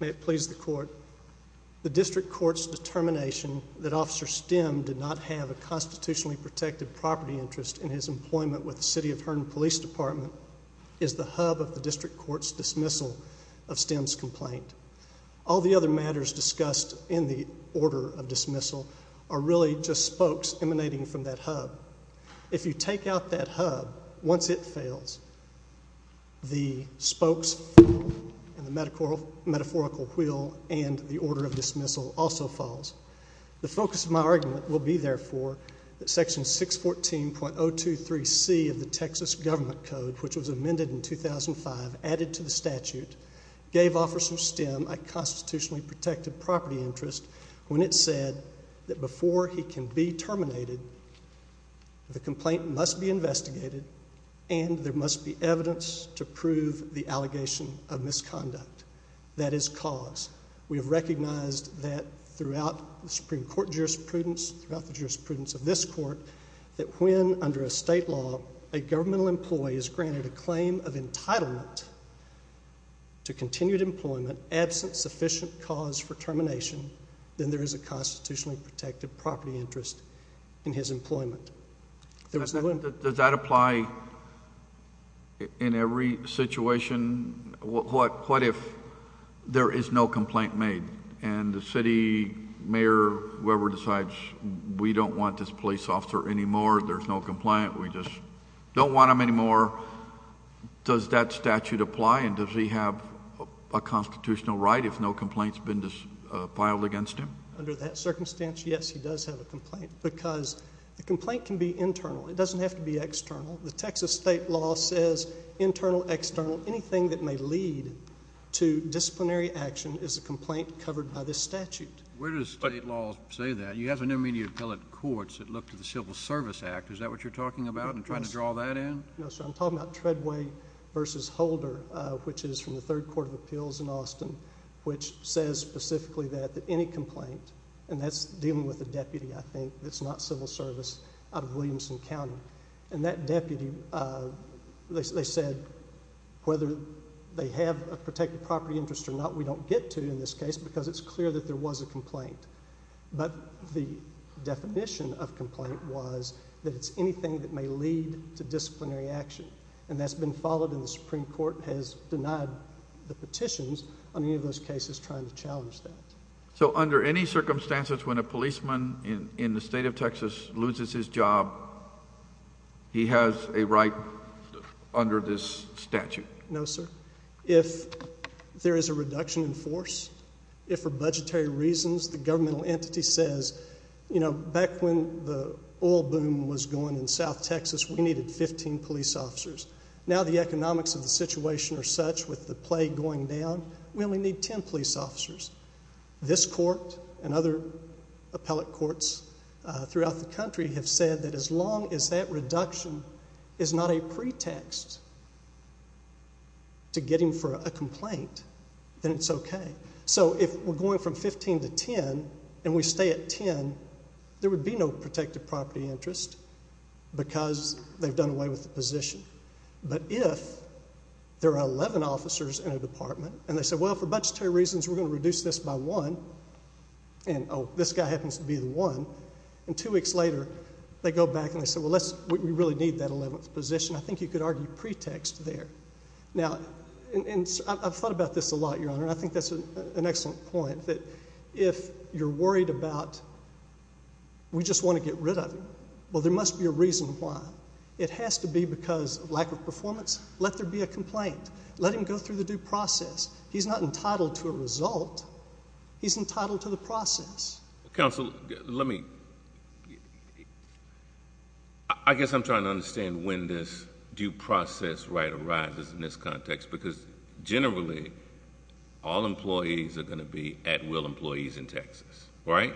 May it please the Court, the District Court's determination that Officer Stem did not have a constitutionally protected property interest in his employment with the City of Hearn Police Department is the hub of the District Court's dismissal of Stem's complaint. All the other matters discussed in the order of dismissal are really just spokes emanating from that hub. If you take out that hub, once it fails, the spokes and the metaphorical wheel and the order of dismissal also falls. The focus of my argument will be, therefore, that Section 614.023c of the Texas Government Code, which was amended in 2005, added to the statute, gave Officer Stem a constitutionally protected property interest when it said that before he can be terminated, the complaint must be investigated and there must be evidence to prove the allegation of misconduct. That is cause. We have recognized that throughout the Supreme Court jurisprudence, throughout the jurisprudence of this Court, that when, under a state law, a governmental employee is granted a claim of entitlement to continued employment, absent sufficient cause for termination, then there is a constitutionally protected property interest in his employment. Does that apply in every situation? What if there is no complaint made and the City Mayor, whoever decides, we don't want this police officer anymore, there's no complaint, we just don't want him anymore? Or does that statute apply and does he have a constitutional right if no complaint has been filed against him? Under that circumstance, yes, he does have a complaint, because a complaint can be internal. It doesn't have to be external. The Texas state law says internal, external. Anything that may lead to disciplinary action is a complaint covered by this statute. Where does state law say that? You have an immediate appellate courts that look to the Civil Service Act. Is that what you're talking about? I'm trying to draw that in. No, sir. I'm talking about Treadway v. Holder, which is from the Third Court of Appeals in Austin, which says specifically that any complaint, and that's dealing with a deputy I think that's not Civil Service out of Williamson County, and that deputy, they said whether they have a protected property interest or not, we don't get to in this case, because it's clear that there was a complaint. But the definition of complaint was that it's anything that may lead to disciplinary action, and that's been followed, and the Supreme Court has denied the petitions on any of those cases trying to challenge that. So under any circumstances when a policeman in the state of Texas loses his job, he has a right under this statute? No, sir. If there is a reduction in force, if for budgetary reasons the governmental entity says, you know, back when the oil boom was going in South Texas, we needed 15 police officers. Now the economics of the situation are such with the plague going down, we only need 10 police officers. This court and other appellate courts throughout the country have said that as long as that to get him for a complaint, then it's okay. So if we're going from 15 to 10, and we stay at 10, there would be no protected property interest, because they've done away with the position. But if there are 11 officers in a department, and they say, well, for budgetary reasons we're going to reduce this by one, and oh, this guy happens to be the one, and two weeks later they go back and they say, well, we really need that 11th position, I think you could argue pretext there. Now, I've thought about this a lot, Your Honor, and I think that's an excellent point, that if you're worried about we just want to get rid of him, well, there must be a reason why. It has to be because of lack of performance. Let there be a complaint. Let him go through the due process. He's not entitled to a result. He's entitled to the process. Counsel, let me... I guess I'm trying to understand when this due process right arises in this context, because generally all employees are going to be at will employees in Texas, right?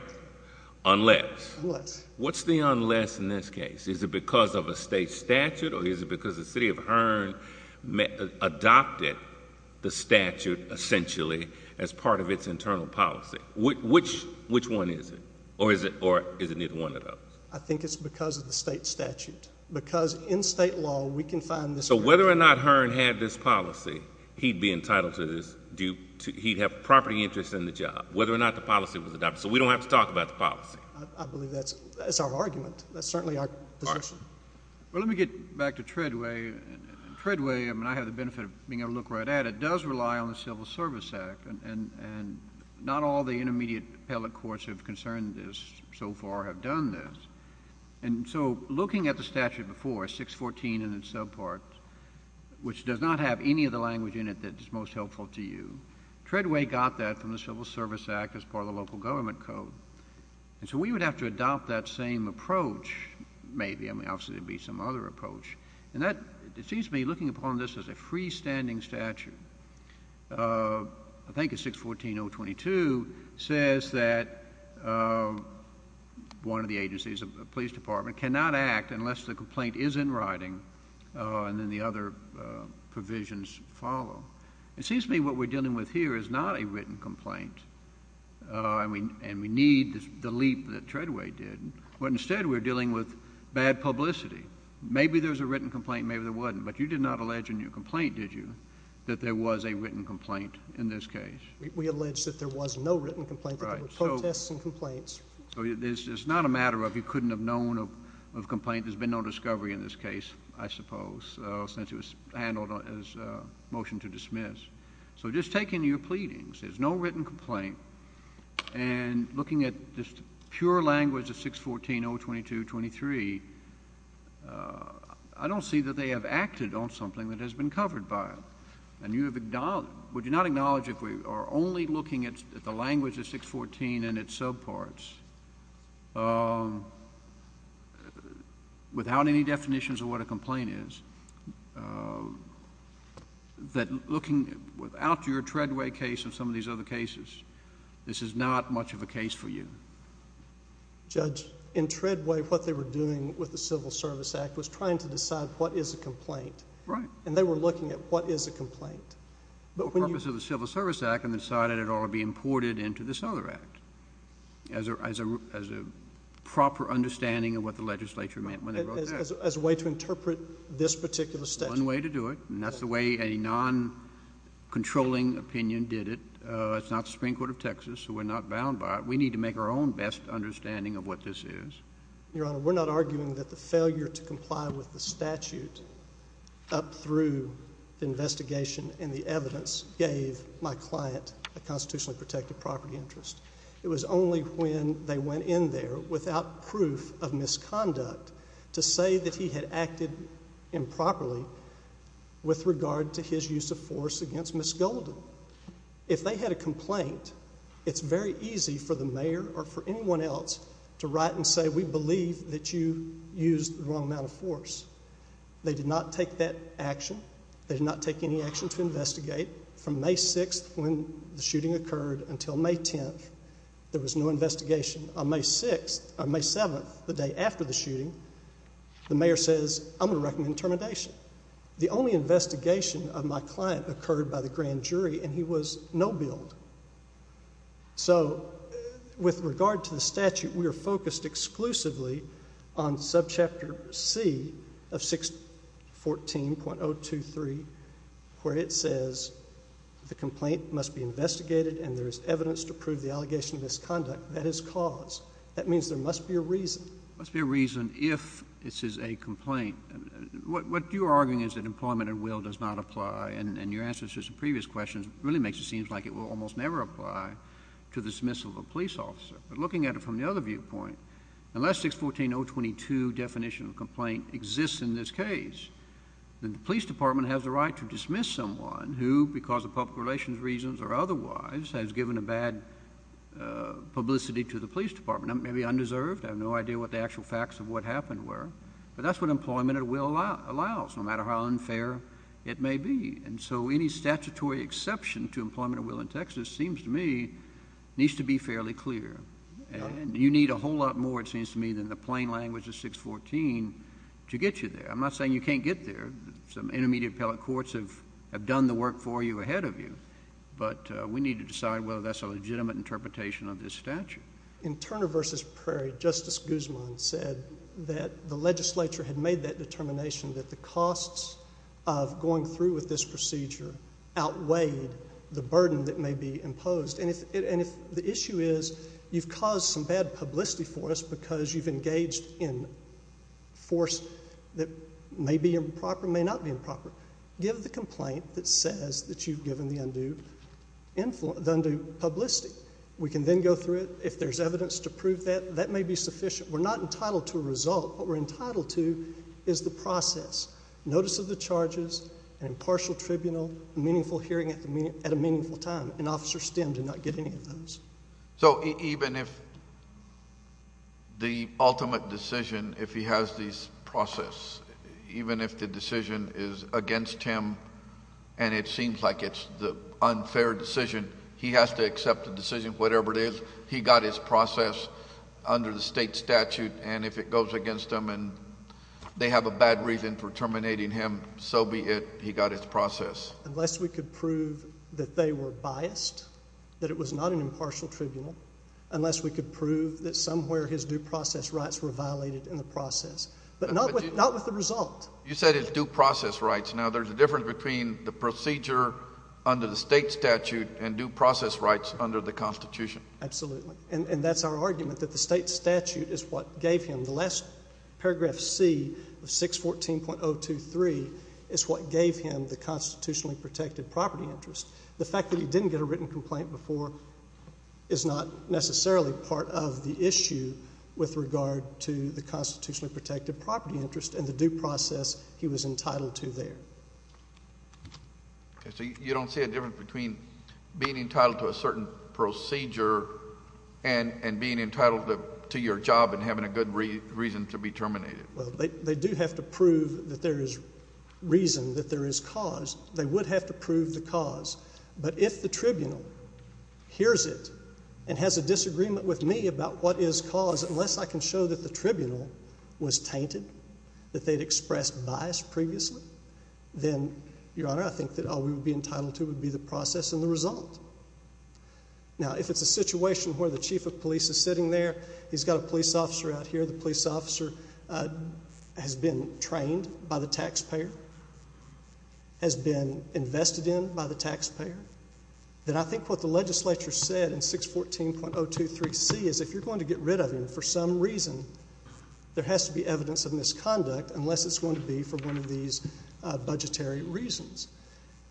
Unless. Unless. What's the unless in this case? Is it because of a state statute, or is it because the city of Hearn adopted the statute essentially as part of its internal policy? Which one is it, or is it neither one of those? I think it's because of the state statute. Because in state law, we can find this... So whether or not Hearn had this policy, he'd be entitled to this, he'd have property interest in the job. Whether or not the policy was adopted. So we don't have to talk about the policy. I believe that's our argument. That's certainly our position. Well, let me get back to Treadway, and Treadway, I mean, I have the benefit of being able to look right at it. That does rely on the Civil Service Act, and not all the intermediate appellate courts have concerned this so far have done this. And so looking at the statute before, 614 and its subparts, which does not have any of the language in it that is most helpful to you, Treadway got that from the Civil Service Act as part of the local government code. And so we would have to adopt that same approach, maybe, I mean, obviously there'd be some other approach. And that, it seems to me, looking upon this as a freestanding statute, I think it's 614.022, says that one of the agencies, a police department, cannot act unless the complaint is in writing and then the other provisions follow. It seems to me what we're dealing with here is not a written complaint, and we need the leap that Treadway did, but instead we're dealing with bad publicity. Maybe there's a written complaint, maybe there wasn't. But you did not allege in your complaint, did you, that there was a written complaint in this case? We allege that there was no written complaint, that there were protests and complaints. So it's not a matter of you couldn't have known of a complaint, there's been no discovery in this case, I suppose, since it was handled as a motion to dismiss. So just take in your pleadings, there's no written complaint. And looking at this pure language of 614.022.23, I don't see that they have acted on something that has been covered by it. And would you not acknowledge if we are only looking at the language of 614 and its subparts without any definitions of what a complaint is, that looking without your Treadway case and some of these other cases, this is not much of a case for you? Judge, in Treadway, what they were doing with the Civil Service Act was trying to decide what is a complaint. Right. And they were looking at what is a complaint. But when you... For the purpose of the Civil Service Act, and they decided it ought to be imported into this other act, as a proper understanding of what the legislature meant when they wrote that. As a way to interpret this particular statute. One way to do it. And that's the way a non-controlling opinion did it. It's not the Supreme Court of Texas, so we're not bound by it. We need to make our own best understanding of what this is. Your Honor, we're not arguing that the failure to comply with the statute up through the investigation and the evidence gave my client a constitutionally protected property interest. It was only when they went in there without proof of misconduct to say that he had acted improperly with regard to his use of force against Ms. Golden. If they had a complaint, it's very easy for the mayor or for anyone else to write and say we believe that you used the wrong amount of force. They did not take that action. They did not take any action to investigate. From May 6th, when the shooting occurred, until May 10th, there was no investigation. On May 7th, the day after the shooting, the mayor says I'm going to recommend termination. The only investigation of my client occurred by the grand jury, and he was no billed. So with regard to the statute, we are focused exclusively on subchapter C of 614.023, where it says the complaint must be investigated and there is evidence to prove the allegation of misconduct. That is cause. That means there must be a reason. There must be a reason if this is a complaint. What you are arguing is that employment and will does not apply, and your answer to some previous questions really makes it seem like it will almost never apply to the dismissal of a police officer. But looking at it from the other viewpoint, unless 614.022 definition of complaint exists in this case, then the police department has the right to dismiss someone who, because of public relations reasons or otherwise, has given a bad publicity to the police department. They may be undeserved. I have no idea what the actual facts of what happened were, but that's what employment and will allows, no matter how unfair it may be. And so any statutory exception to employment and will in Texas seems to me needs to be fairly clear. You need a whole lot more, it seems to me, than the plain language of 614 to get you there. I'm not saying you can't get there. Some intermediate appellate courts have done the work for you ahead of you, but we need to decide whether that's a legitimate interpretation of this statute. In Turner v. Prairie, Justice Guzman said that the legislature had made that determination that the costs of going through with this procedure outweighed the burden that may be imposed. And if the issue is you've caused some bad publicity for us because you've engaged in a force that may be improper, may not be improper, give the complaint that says that you've given the undue publicity. We can then go through it. If there's evidence to prove that, that may be sufficient. We're not entitled to a result. What we're entitled to is the process. Notice of the charges, an impartial tribunal, a meaningful hearing at a meaningful time. An officer stimmed and not get any of those. So even if the ultimate decision, if he has this process, even if the decision is against him and it seems like it's the unfair decision, he has to accept the decision, whatever it is. He got his process under the state statute. And if it goes against him and they have a bad reason for terminating him, so be it. He got his process. Unless we could prove that they were biased, that it was not an impartial tribunal, unless we could prove that somewhere his due process rights were violated in the process. But not with the result. You said his due process rights. Now there's a difference between the procedure under the state statute and due process rights under the Constitution. Absolutely. And that's our argument, that the state statute is what gave him the last paragraph C of 614.023 is what gave him the constitutionally protected property interest. The fact that he didn't get a written complaint before is not necessarily part of the issue with regard to the constitutionally protected property interest and the due process he was entitled to there. Okay. So you don't see a difference between being entitled to a certain procedure and being entitled to your job and having a good reason to be terminated? Well, they do have to prove that there is reason, that there is cause. They would have to prove the cause. But if the tribunal hears it and has a disagreement with me about what is cause, unless I can show that the tribunal was tainted, that they'd expressed bias previously, then, Your Honor, I think that all we would be entitled to would be the process and the result. Now if it's a situation where the chief of police is sitting there, he's got a police officer out here, the police officer has been trained by the taxpayer, has been invested in by the taxpayer, then I think what the legislature said in 614.023C is if you're going to get rid of him for some reason, there has to be evidence of misconduct unless it's going to be for one of these budgetary reasons.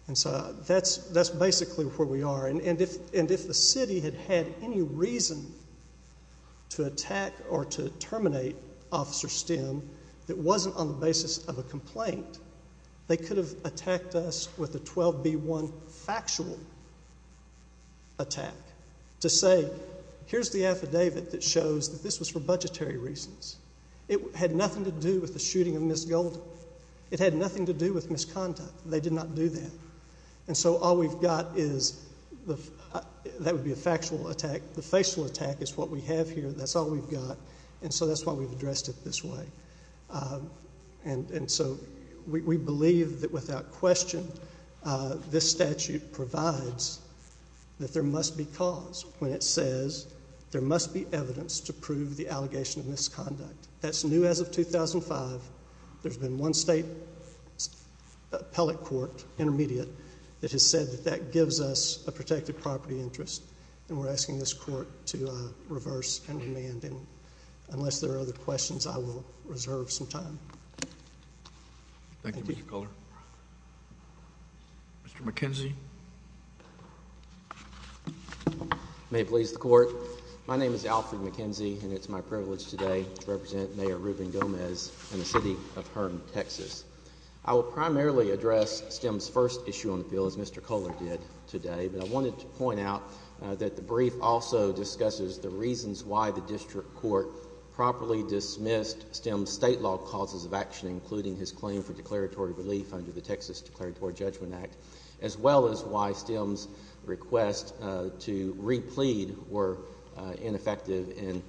And so that's basically where we are. And if the city had had any reason to attack or to terminate Officer Stem that wasn't on the basis of a complaint, they could have attacked us with a 12B1 factual attack to say here's the affidavit that shows that this was for budgetary reasons. It had nothing to do with the shooting of Ms. Golden. It had nothing to do with misconduct. They did not do that. And so all we've got is, that would be a factual attack, the facial attack is what we have here, that's all we've got, and so that's why we've addressed it this way. And so we believe that without question this statute provides that there must be cause when it says there must be evidence to prove the allegation of misconduct. That's new as of 2005. There's been one state appellate court, intermediate, that has said that that gives us a protected property interest. And we're asking this court to reverse and amend. Unless there are other questions, I will reserve some time. Thank you. Thank you, Mr. Culler. Mr. McKenzie. May it please the court. My name is Alfred McKenzie, and it's my privilege today to represent Mayor Ruben Gomez in the city of Herm, Texas. I will primarily address STEM's first issue on the field, as Mr. Culler did today, but I wanted to point out that the brief also discusses the reasons why the district court properly dismissed STEM's state law causes of action, including his claim for declaratory relief under the Texas Declaratory Judgment Act, as well as why STEM's request to re-plead were ineffective and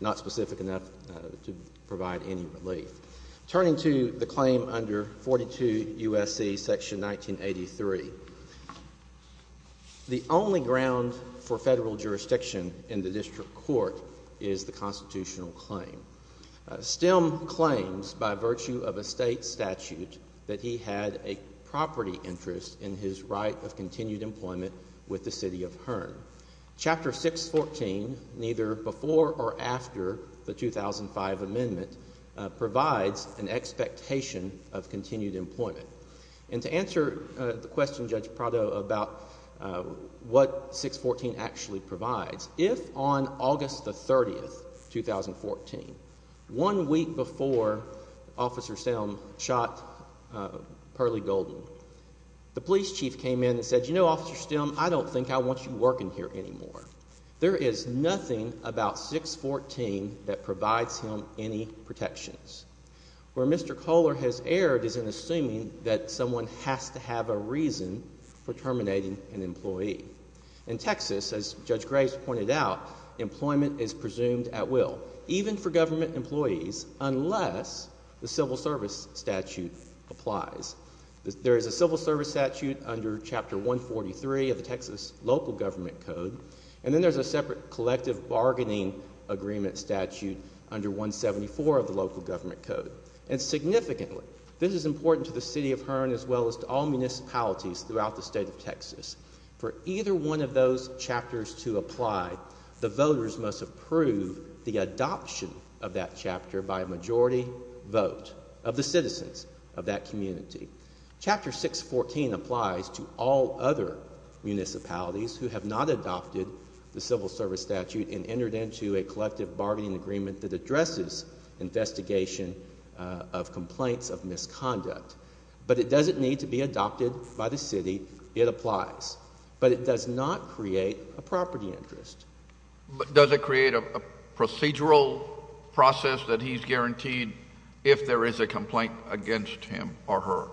not specific enough to provide any relief. Turning to the claim under 42 U.S.C. section 1983, the only ground for federal jurisdiction in the district court is the constitutional claim. STEM claims, by virtue of a state statute, that he had a property interest in his right of continued employment with the city of Herm. Chapter 614, neither before or after the 2005 amendment, provides an expectation of continued employment. And to answer the question, Judge Prado, about what 614 actually provides, if on August the And it said, you know, Officer Stem, I don't think I want you working here anymore. There is nothing about 614 that provides him any protections. Where Mr. Culler has erred is in assuming that someone has to have a reason for terminating an employee. In Texas, as Judge Graves pointed out, employment is presumed at will, even for government employees, unless the civil service statute applies. There is a civil service statute under Chapter 143 of the Texas local government code. And then there's a separate collective bargaining agreement statute under 174 of the local government code. And significantly, this is important to the city of Herm, as well as to all municipalities throughout the state of Texas. For either one of those chapters to apply, the voters must approve the adoption of that Chapter 614 applies to all other municipalities who have not adopted the civil service statute and entered into a collective bargaining agreement that addresses investigation of complaints of misconduct. But it doesn't need to be adopted by the city. It applies. But it does not create a property interest. Does it create a procedural process that he's guaranteed if there is a complaint against him or her?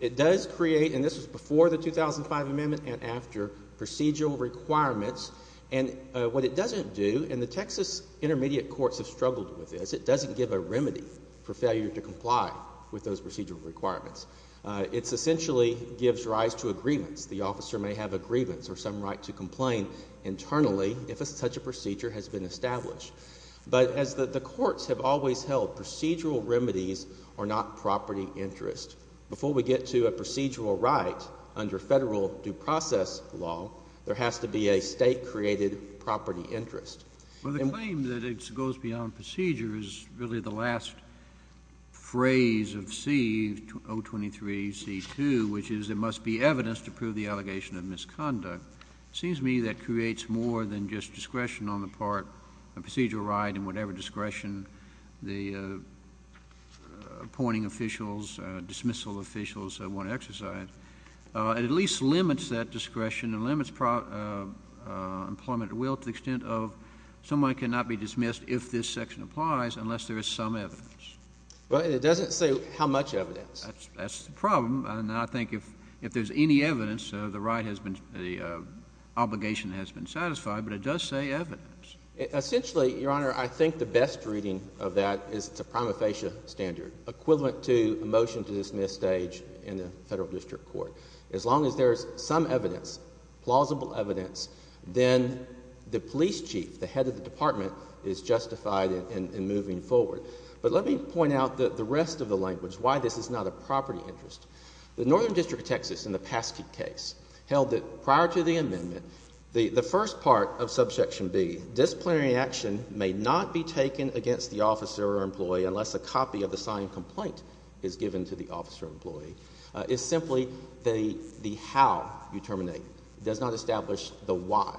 It does create, and this was before the 2005 amendment and after, procedural requirements. And what it doesn't do, and the Texas intermediate courts have struggled with this, it doesn't give a remedy for failure to comply with those procedural requirements. It's essentially gives rise to agreements. The officer may have agreements or some right to complain internally if such a procedure has been established. But as the courts have always held, procedural remedies are not property interest. Before we get to a procedural right under federal due process law, there has to be a state-created property interest. Well, the claim that it goes beyond procedure is really the last phrase of C, 023C2, which is there must be evidence to prove the allegation of misconduct. It seems to me that creates more than just discretion on the part of procedural right and whatever discretion the appointing officials, dismissal officials, want to exercise. It at least limits that discretion and limits employment at will to the extent of someone cannot be dismissed if this section applies unless there is some evidence. But it doesn't say how much evidence. That's the problem. And I think if there's any evidence, the obligation has been satisfied. But it does say evidence. Essentially, Your Honor, I think the best reading of that is it's a prima facie standard, equivalent to a motion to dismiss stage in the federal district court. As long as there is some evidence, plausible evidence, then the police chief, the head of the department, is justified in moving forward. But let me point out the rest of the language, why this is not a property interest. The Northern District of Texas in the Paske case held that prior to the amendment, the first part of subsection B, disciplinary action may not be taken against the officer or employee unless a copy of the signed complaint is given to the officer or employee. It's simply the how you terminate. It does not establish the why.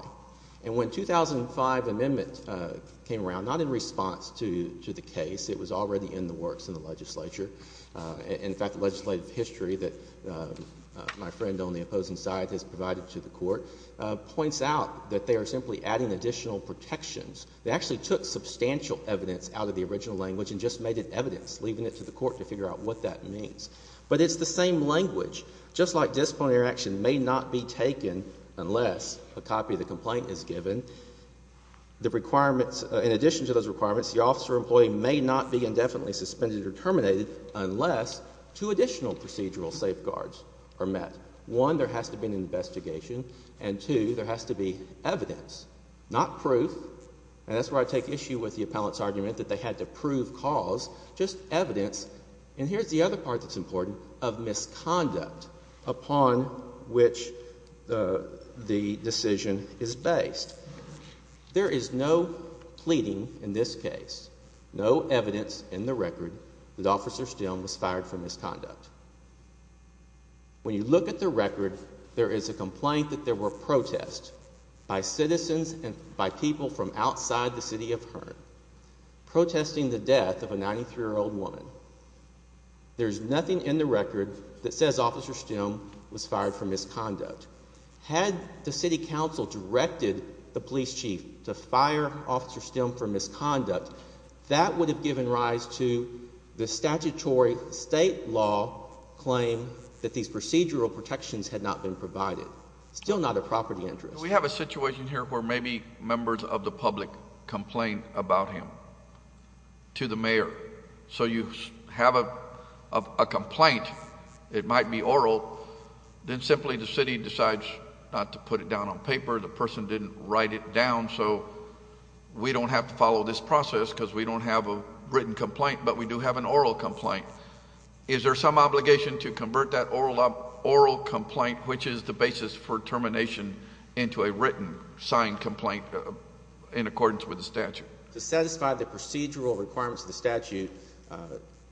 And when 2005 amendment came around, not in response to the case, it was already in the works in the legislature. In fact, the legislative history that my friend on the opposing side has provided to the court points out that they are simply adding additional protections. They actually took substantial evidence out of the original language and just made it evidence, leaving it to the court to figure out what that means. But it's the same language. Just like disciplinary action may not be taken unless a copy of the complaint is given, the requirements, in addition to those requirements, the officer or employee may not be indefinitely suspended or terminated unless two additional procedural safeguards are met. One, there has to be an investigation. And two, there has to be evidence, not proof, and that's where I take issue with the appellant's argument that they had to prove cause, just evidence. And here's the other part that's important, of misconduct upon which the decision is based. There is no pleading in this case, no evidence in the record that Officer Stillman was fired for misconduct. When you look at the record, there is a complaint that there were protests by citizens and by people from outside the city of Hearn, protesting the death of a 93-year-old woman. There's nothing in the record that says Officer Stillman was fired for misconduct. Had the city council directed the police chief to fire Officer Stillman for misconduct, that would have given rise to the statutory state law claim that these procedural protections had not been provided. Still not a property interest. We have a situation here where maybe members of the public complain about him to the mayor. So you have a complaint, it might be oral, then simply the city decides not to put it down on paper, the person didn't write it down, so we don't have to follow this process because we don't have a written complaint, but we do have an oral complaint. Is there some obligation to convert that oral complaint, which is the basis for termination, into a written, signed complaint in accordance with the statute? To satisfy the procedural requirements of the statute,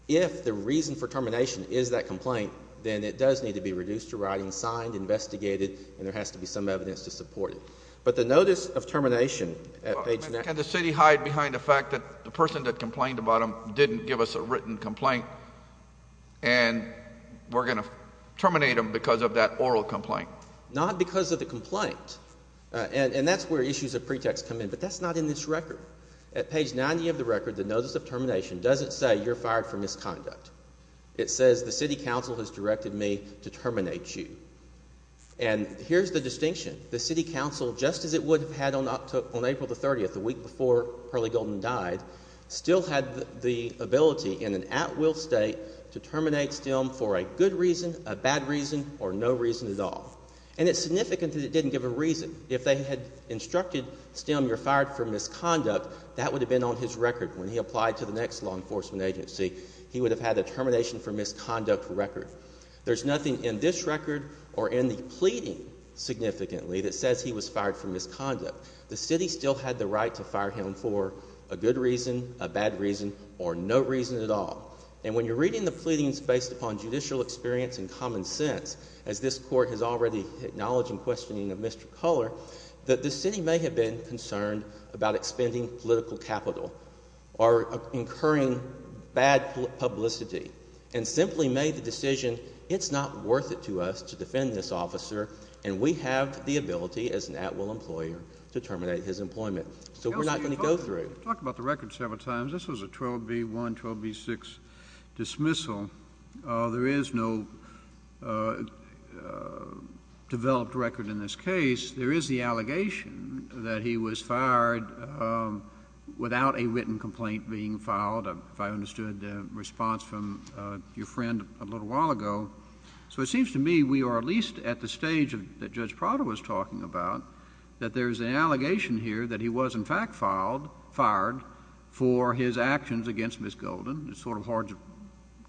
if the reason for termination is that complaint, then it does need to be reduced to writing, signed, investigated, and there has to be some evidence to support it. But the notice of termination at page... Can the city hide behind the fact that the person that complained about him didn't give us a written complaint and we're going to terminate him because of that oral complaint? Not because of the complaint. And that's where issues of pretext come in, but that's not in this record. At page 90 of the record, the notice of termination doesn't say you're fired for misconduct. It says the city council has directed me to terminate you. And here's the distinction. The city council, just as it would have had on April the 30th, the week before Pearly Golden died, still had the ability in an at-will state to terminate Stilm for a good reason, a bad reason, or no reason at all. And it's significant that it didn't give a reason. If they had instructed Stilm you're fired for misconduct, that would have been on his record when he applied to the next law enforcement agency. He would have had a termination for misconduct record. There's nothing in this record or in the pleading significantly that says he was fired for misconduct. The city still had the right to fire him for a good reason, a bad reason, or no reason at all. And when you're reading the pleadings based upon judicial experience and common sense, as this court has already acknowledged in questioning of Mr. Culler, that the city may have been concerned about expending political capital or incurring bad publicity and simply made the decision it's not worth it to us to defend this officer and we have the ability as an at-will employer to terminate his employment. So we're not going to go through. Talk about the record several times. This was a 12B1, 12B6 dismissal. There is no developed record in this case. There is the allegation that he was fired without a written complaint being filed, if I understood the response from your friend a little while ago. So it seems to me we are at least at the stage that Judge Prado was talking about, that there is an allegation here that he was, in fact, fired for his actions against Ms. Golden. It's sort of hard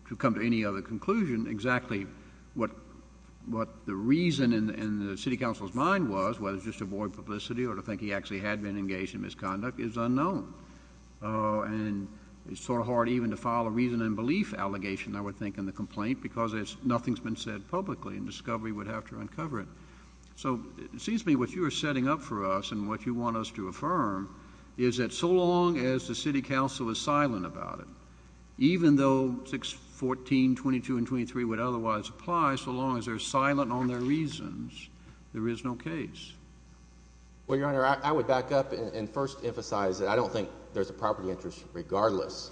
to come to any other conclusion. Exactly what the reason in the city council's mind was, whether it's just to avoid publicity or to think he actually had been engaged in misconduct, is unknown. And it's sort of hard even to file a reason and belief allegation, I would think, in the complaint because nothing's been said publicly and discovery would have to uncover it. So it seems to me what you are setting up for us and what you want us to affirm is that so long as the city council is silent about it, even though 614, 22, and 23 would otherwise apply, so long as they're silent on their reasons, there is no case. Well, Your Honor, I would back up and first emphasize that I don't think there's a property interest regardless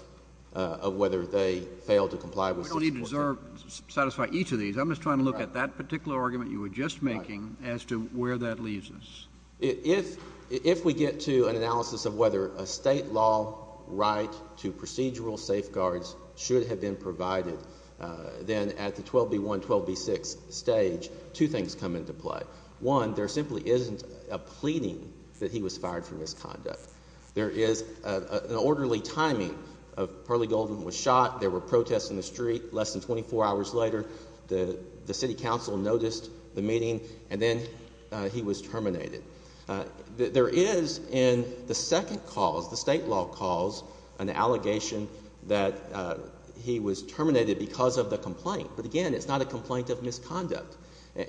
of whether they fail to comply with 614. We don't even deserve to satisfy each of these. I'm just trying to look at that particular argument you were just making as to where that leaves us. If we get to an analysis of whether a state law right to procedural safeguards should have been provided, then at the 12B1, 12B6 stage, two things come into play. One, there simply isn't a pleading that he was fired for misconduct. There is an orderly timing of Pearly Golden was shot. There were protests in the street. Less than 24 hours later, the city council noticed the meeting and then he was terminated. There is in the second cause, the state law cause, an allegation that he was terminated because of the complaint. But again, it's not a complaint of misconduct.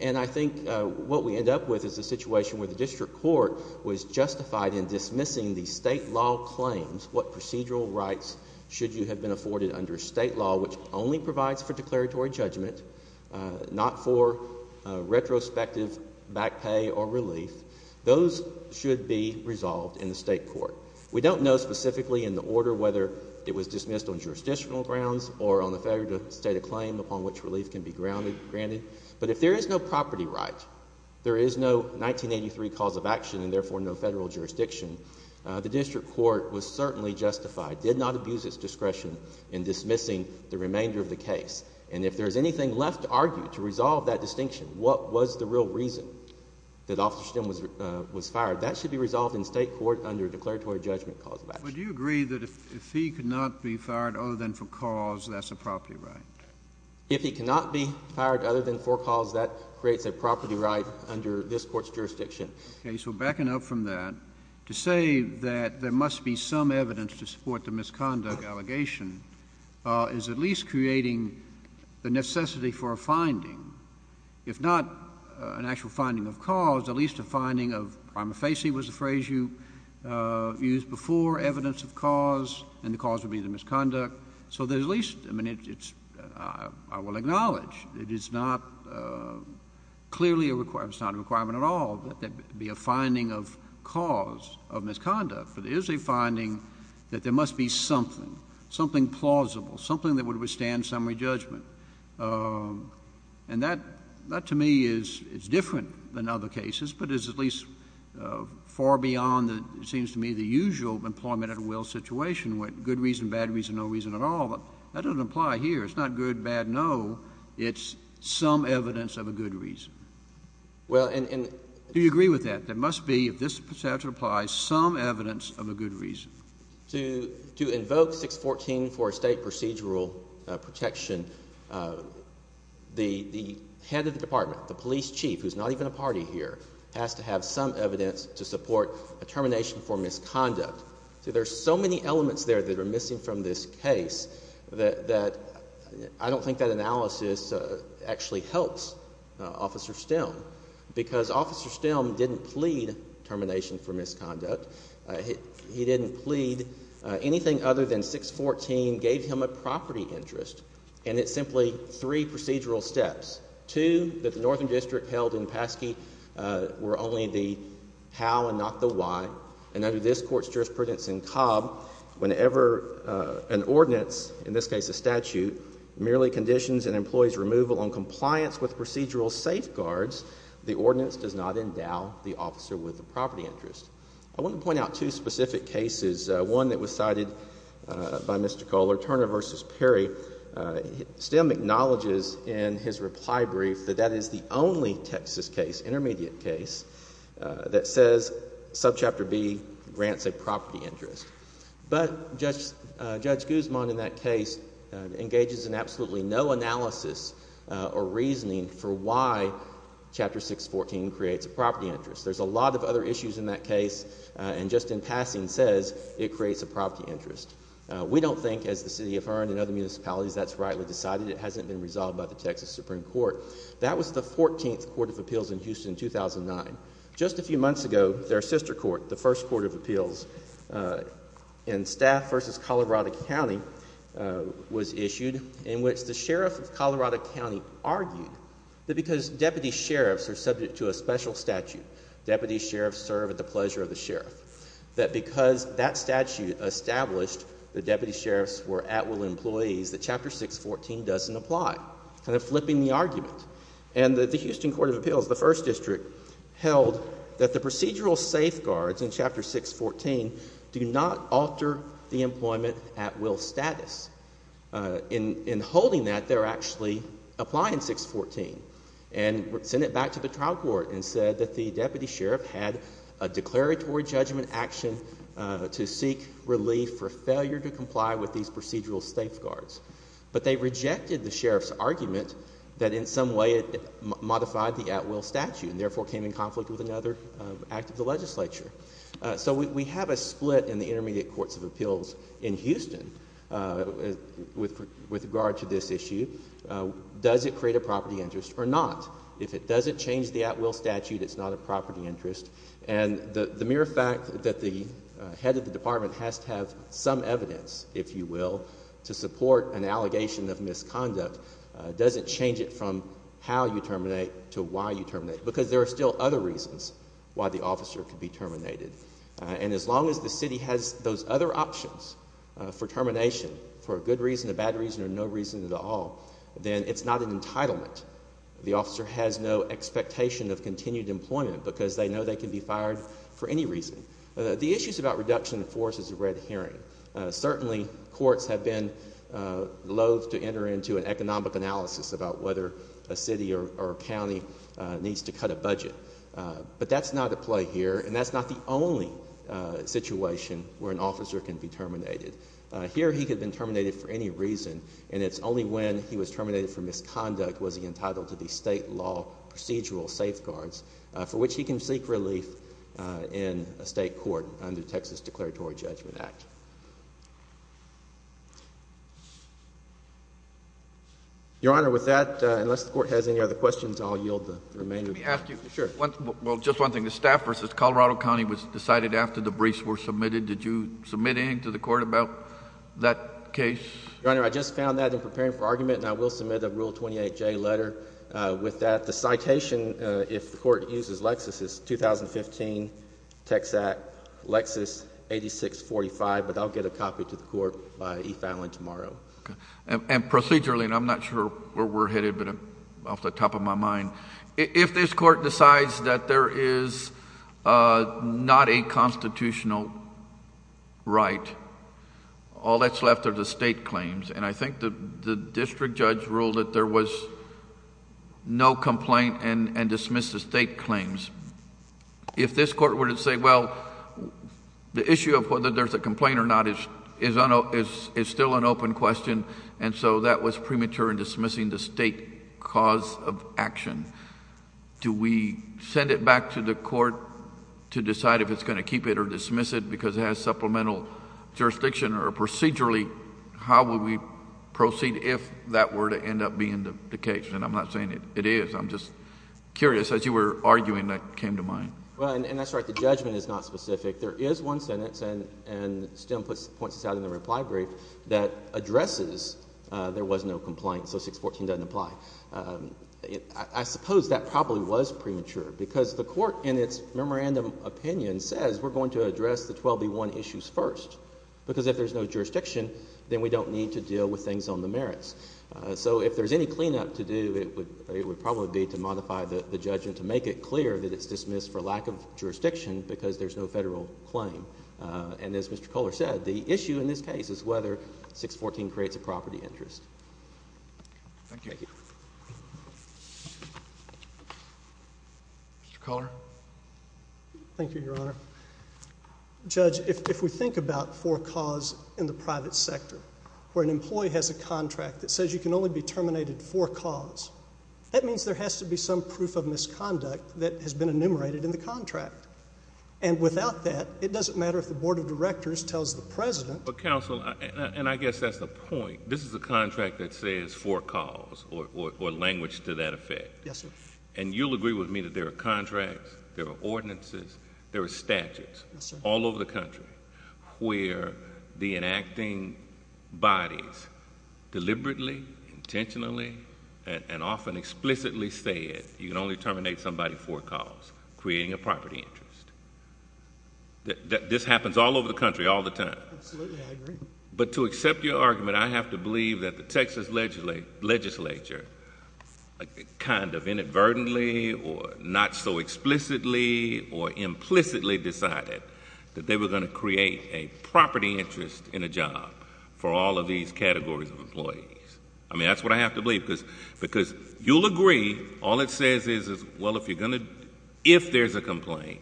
And I think what we end up with is a situation where the district court was justified in dismissing the state law claims, what procedural rights should you have been afforded under state law which only provides for declaratory judgment, not for retrospective back pay or relief. Those should be resolved in the state court. We don't know specifically in the order whether it was dismissed on jurisdictional grounds or on the failure to state a claim upon which relief can be granted. But if there is no property right, there is no 1983 cause of action and therefore no federal jurisdiction, the district court was certainly justified, did not abuse its discretion in dismissing the remainder of the case. And if there is anything left to argue to resolve that distinction, what was the real reason that Officer Stem was fired, that should be resolved in state court under declaratory judgment cause of action. But do you agree that if he could not be fired other than for cause, that's a property right? If he cannot be fired other than for cause, that creates a property right under this court's jurisdiction. OK. So backing up from that, to say that there must be some evidence to support the misconduct allegation is at least creating the necessity for a finding, if not an actual finding of cause, at least a finding of prima facie was the phrase you used before, evidence of cause, and the cause would be the misconduct. So there's at least, I mean, I will acknowledge it is not clearly a requirement, it's not a requirement at all that there be a finding of cause of misconduct. But there is a finding that there must be something, something plausible, something that would withstand summary judgment. And that to me is different than other cases, but is at least far beyond, it seems to me, the usual employment at will situation with good reason, bad reason, no reason at all. But that doesn't apply here. It's not good, bad, no. It's some evidence of a good reason. Well, and— Do you agree with that? There must be, if this is to apply, some evidence of a good reason. To invoke 614 for a state procedural protection, the head of the department, the police chief, who's not even a party here, has to have some evidence to support a termination for misconduct. See, there's so many elements there that are missing from this case that I don't think that analysis actually helps Officer Stelm, because Officer Stelm didn't plead termination for misconduct. He didn't plead. Anything other than 614 gave him a property interest, and it's simply three procedural steps. Two, that the Northern District held in Paske were only the how and not the why. And under this Court's jurisprudence in Cobb, whenever an ordinance, in this case a employee's removal on compliance with procedural safeguards, the ordinance does not endow the officer with a property interest. I want to point out two specific cases. One that was cited by Mr. Kohler, Turner v. Perry. Stelm acknowledges in his reply brief that that is the only Texas case, intermediate case, that says subchapter B grants a property interest. But Judge Guzman in that case engages in absolutely no analysis or reasoning for why Chapter 614 creates a property interest. There's a lot of other issues in that case, and just in passing says it creates a property interest. We don't think, as the City of Hearn and other municipalities, that's rightly decided. It hasn't been resolved by the Texas Supreme Court. That was the 14th Court of Appeals in Houston in 2009. Just a few months ago, their sister court, the First Court of Appeals in Staff v. Colorado County, was issued in which the Sheriff of Colorado County argued that because deputy sheriffs are subject to a special statute, deputy sheriffs serve at the pleasure of the sheriff, that because that statute established that deputy sheriffs were at-will employees, that Chapter 614 doesn't apply. Kind of flipping the argument. And the Houston Court of Appeals, the First District, held that the procedural safeguards in Chapter 614 do not alter the employment at-will status. In holding that, they're actually applying 614 and sent it back to the trial court and said that the deputy sheriff had a declaratory judgment action to seek relief for failure to comply with these procedural safeguards. But they rejected the sheriff's argument that in some way it modified the at-will statute and therefore came in conflict with another act of the legislature. So we have a split in the intermediate courts of appeals in Houston with regard to this issue. Does it create a property interest or not? If it doesn't change the at-will statute, it's not a property interest. And the mere fact that the head of the department has to have some evidence, if you will, to support an allegation of misconduct, doesn't change it from how you terminate to why you terminate. Because there are still other reasons why the officer could be terminated. And as long as the city has those other options for termination, for a good reason, a bad reason, or no reason at all, then it's not an entitlement. The officer has no expectation of continued employment because they know they can be fired for any reason. The issues about reduction of force is a red herring. Certainly, courts have been loath to enter into an economic analysis about whether a city or county needs to cut a budget. But that's not at play here. And that's not the only situation where an officer can be terminated. Here he could have been terminated for any reason. And it's only when he was terminated for misconduct was he entitled to the state law procedural safeguards for which he can seek relief in a state court under Texas Declaratory Judgment Act. Your Honor, with that, unless the court has any other questions, I'll yield the remainder. Let me ask you. Sure. Well, just one thing. The staff versus Colorado County was decided after the briefs were submitted. Did you submit anything to the court about that case? Your Honor, I just found that in preparing for argument. And I will submit a Rule 28J letter with that. The citation, if the court uses Lexis, is 2015 Texact Lexis 8645. But I'll get a copy to the court by e-filing tomorrow. Okay. And procedurally, and I'm not sure where we're headed, but off the top of my mind, if this court decides that there is not a constitutional right, all that's left are the state claims. And I think the district judge ruled that there was no complaint and dismissed the state claims. If this court were to say, well, the issue of whether there's a complaint or not is still an open question. And so that was premature in dismissing the state cause of action. Do we send it back to the court to decide if it's going to keep it or dismiss it because it has supplemental jurisdiction? Or procedurally, how would we proceed if that were to end up being the case? And I'm not saying it is. I'm just curious, as you were arguing, that came to mind. Well, and that's right. The judgment is not specific. There is one sentence, and Stem points this out in the reply brief, that addresses there was no complaint, so 614 doesn't apply. I suppose that probably was premature because the court, in its memorandum opinion, says we're going to address the 12B1 issues first. Because if there's no jurisdiction, then we don't need to deal with things on the merits. So if there's any cleanup to do, it would probably be to modify the judgment to make it clear that it's dismissed for lack of jurisdiction because there's no federal claim. And as Mr. Culler said, the issue in this case is whether 614 creates a property interest. Thank you. Mr. Culler? Thank you, Your Honor. Judge, if we think about for cause in the private sector, where an employee has a contract that says you can only be terminated for cause, that means there has to be some proof of misconduct that has been enumerated in the contract. And without that, it doesn't matter if the Board of Directors tells the President... But, counsel, and I guess that's the point. This is a contract that says for cause or language to that effect. Yes, sir. And you'll agree with me that there are contracts, there are ordinances, there are statutes all over the country where the enacting bodies deliberately, intentionally, and often explicitly say it, you can only terminate somebody for cause, creating a property interest. This happens all over the country all the time. Absolutely. I agree. But to accept your argument, I have to believe that the Texas legislature kind of inadvertently or not so explicitly or implicitly decided that they were going to create a property interest in a job for all of these categories of employees. I mean, that's what I have to believe, because you'll agree all it says is, well, if there's a complaint,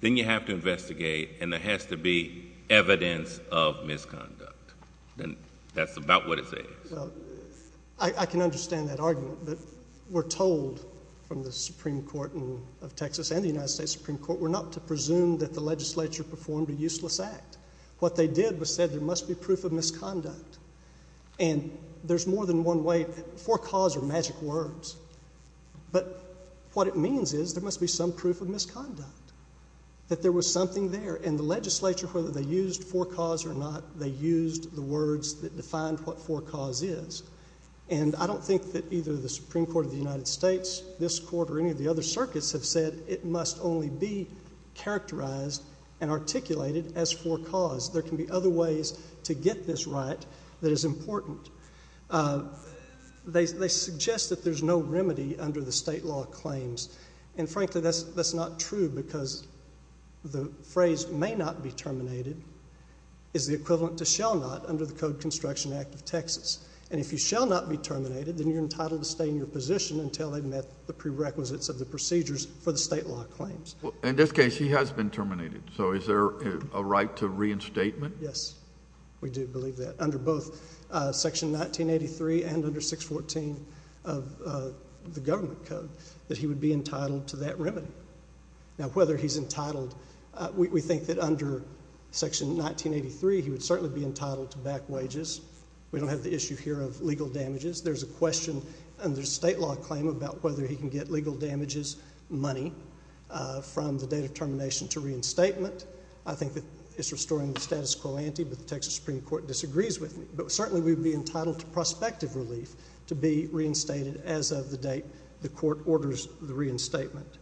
then you have to investigate, and there has to be evidence of misconduct. And that's about what it says. I can understand that argument, but we're told from the Supreme Court of Texas and the United States Supreme Court, we're not to presume that the legislature performed a useless act. What they did was said there must be proof of misconduct. And there's more than one way. For cause are magic words. But what it means is there must be some proof of misconduct, that there was something there. And the legislature, whether they used for cause or not, they used the words that defined what for cause is. And I don't think that either the Supreme Court of the United States, this court, or any of the other circuits have said it must only be characterized and articulated as for cause. There can be other ways to get this right that is important. They suggest that there's no remedy under the state law claims. And frankly, that's not true, because the phrase may not be terminated is the Texas. And if you shall not be terminated, then you're entitled to stay in your position until they met the prerequisites of the procedures for the state law claims. In this case, he has been terminated. So is there a right to reinstatement? Yes, we do believe that. Under both section 1983 and under 614 of the government code, that he would be entitled to that remedy. Now, whether he's entitled, we think that under section 1983, he would certainly be entitled to back wages. We don't have the issue here of legal damages. There's a question under state law claim about whether he can get legal damages money from the date of termination to reinstatement. I think that it's restoring the status quo ante, but the Texas Supreme Court disagrees with me. But certainly, we would be entitled to prospective relief to be reinstated as of the date the court orders the reinstatement.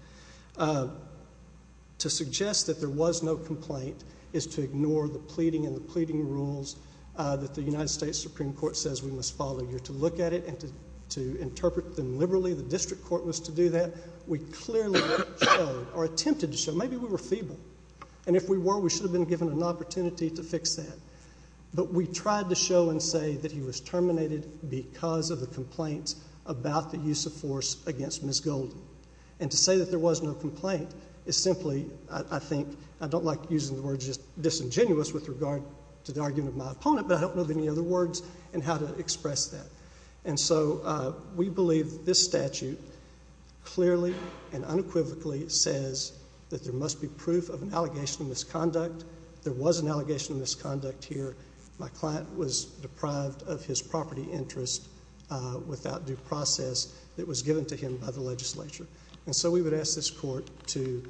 To suggest that there was no complaint is to ignore the pleading and the rules that the United States Supreme Court says we must follow. You're to look at it and to interpret them liberally. The district court was to do that. We clearly showed, or attempted to show, maybe we were feeble. And if we were, we should have been given an opportunity to fix that. But we tried to show and say that he was terminated because of the complaints about the use of force against Ms. Golden. And to say that there was no complaint is simply, I think, I don't like using disingenuous with regard to the argument of my opponent. But I don't know of any other words and how to express that. And so we believe this statute clearly and unequivocally says that there must be proof of an allegation of misconduct. There was an allegation of misconduct here. My client was deprived of his property interest without due process that was given to him by the legislature. And so we would ask this court to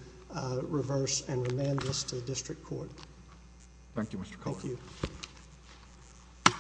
reverse and remand this to the district court. Thank you, Mr. Collard. Thank you.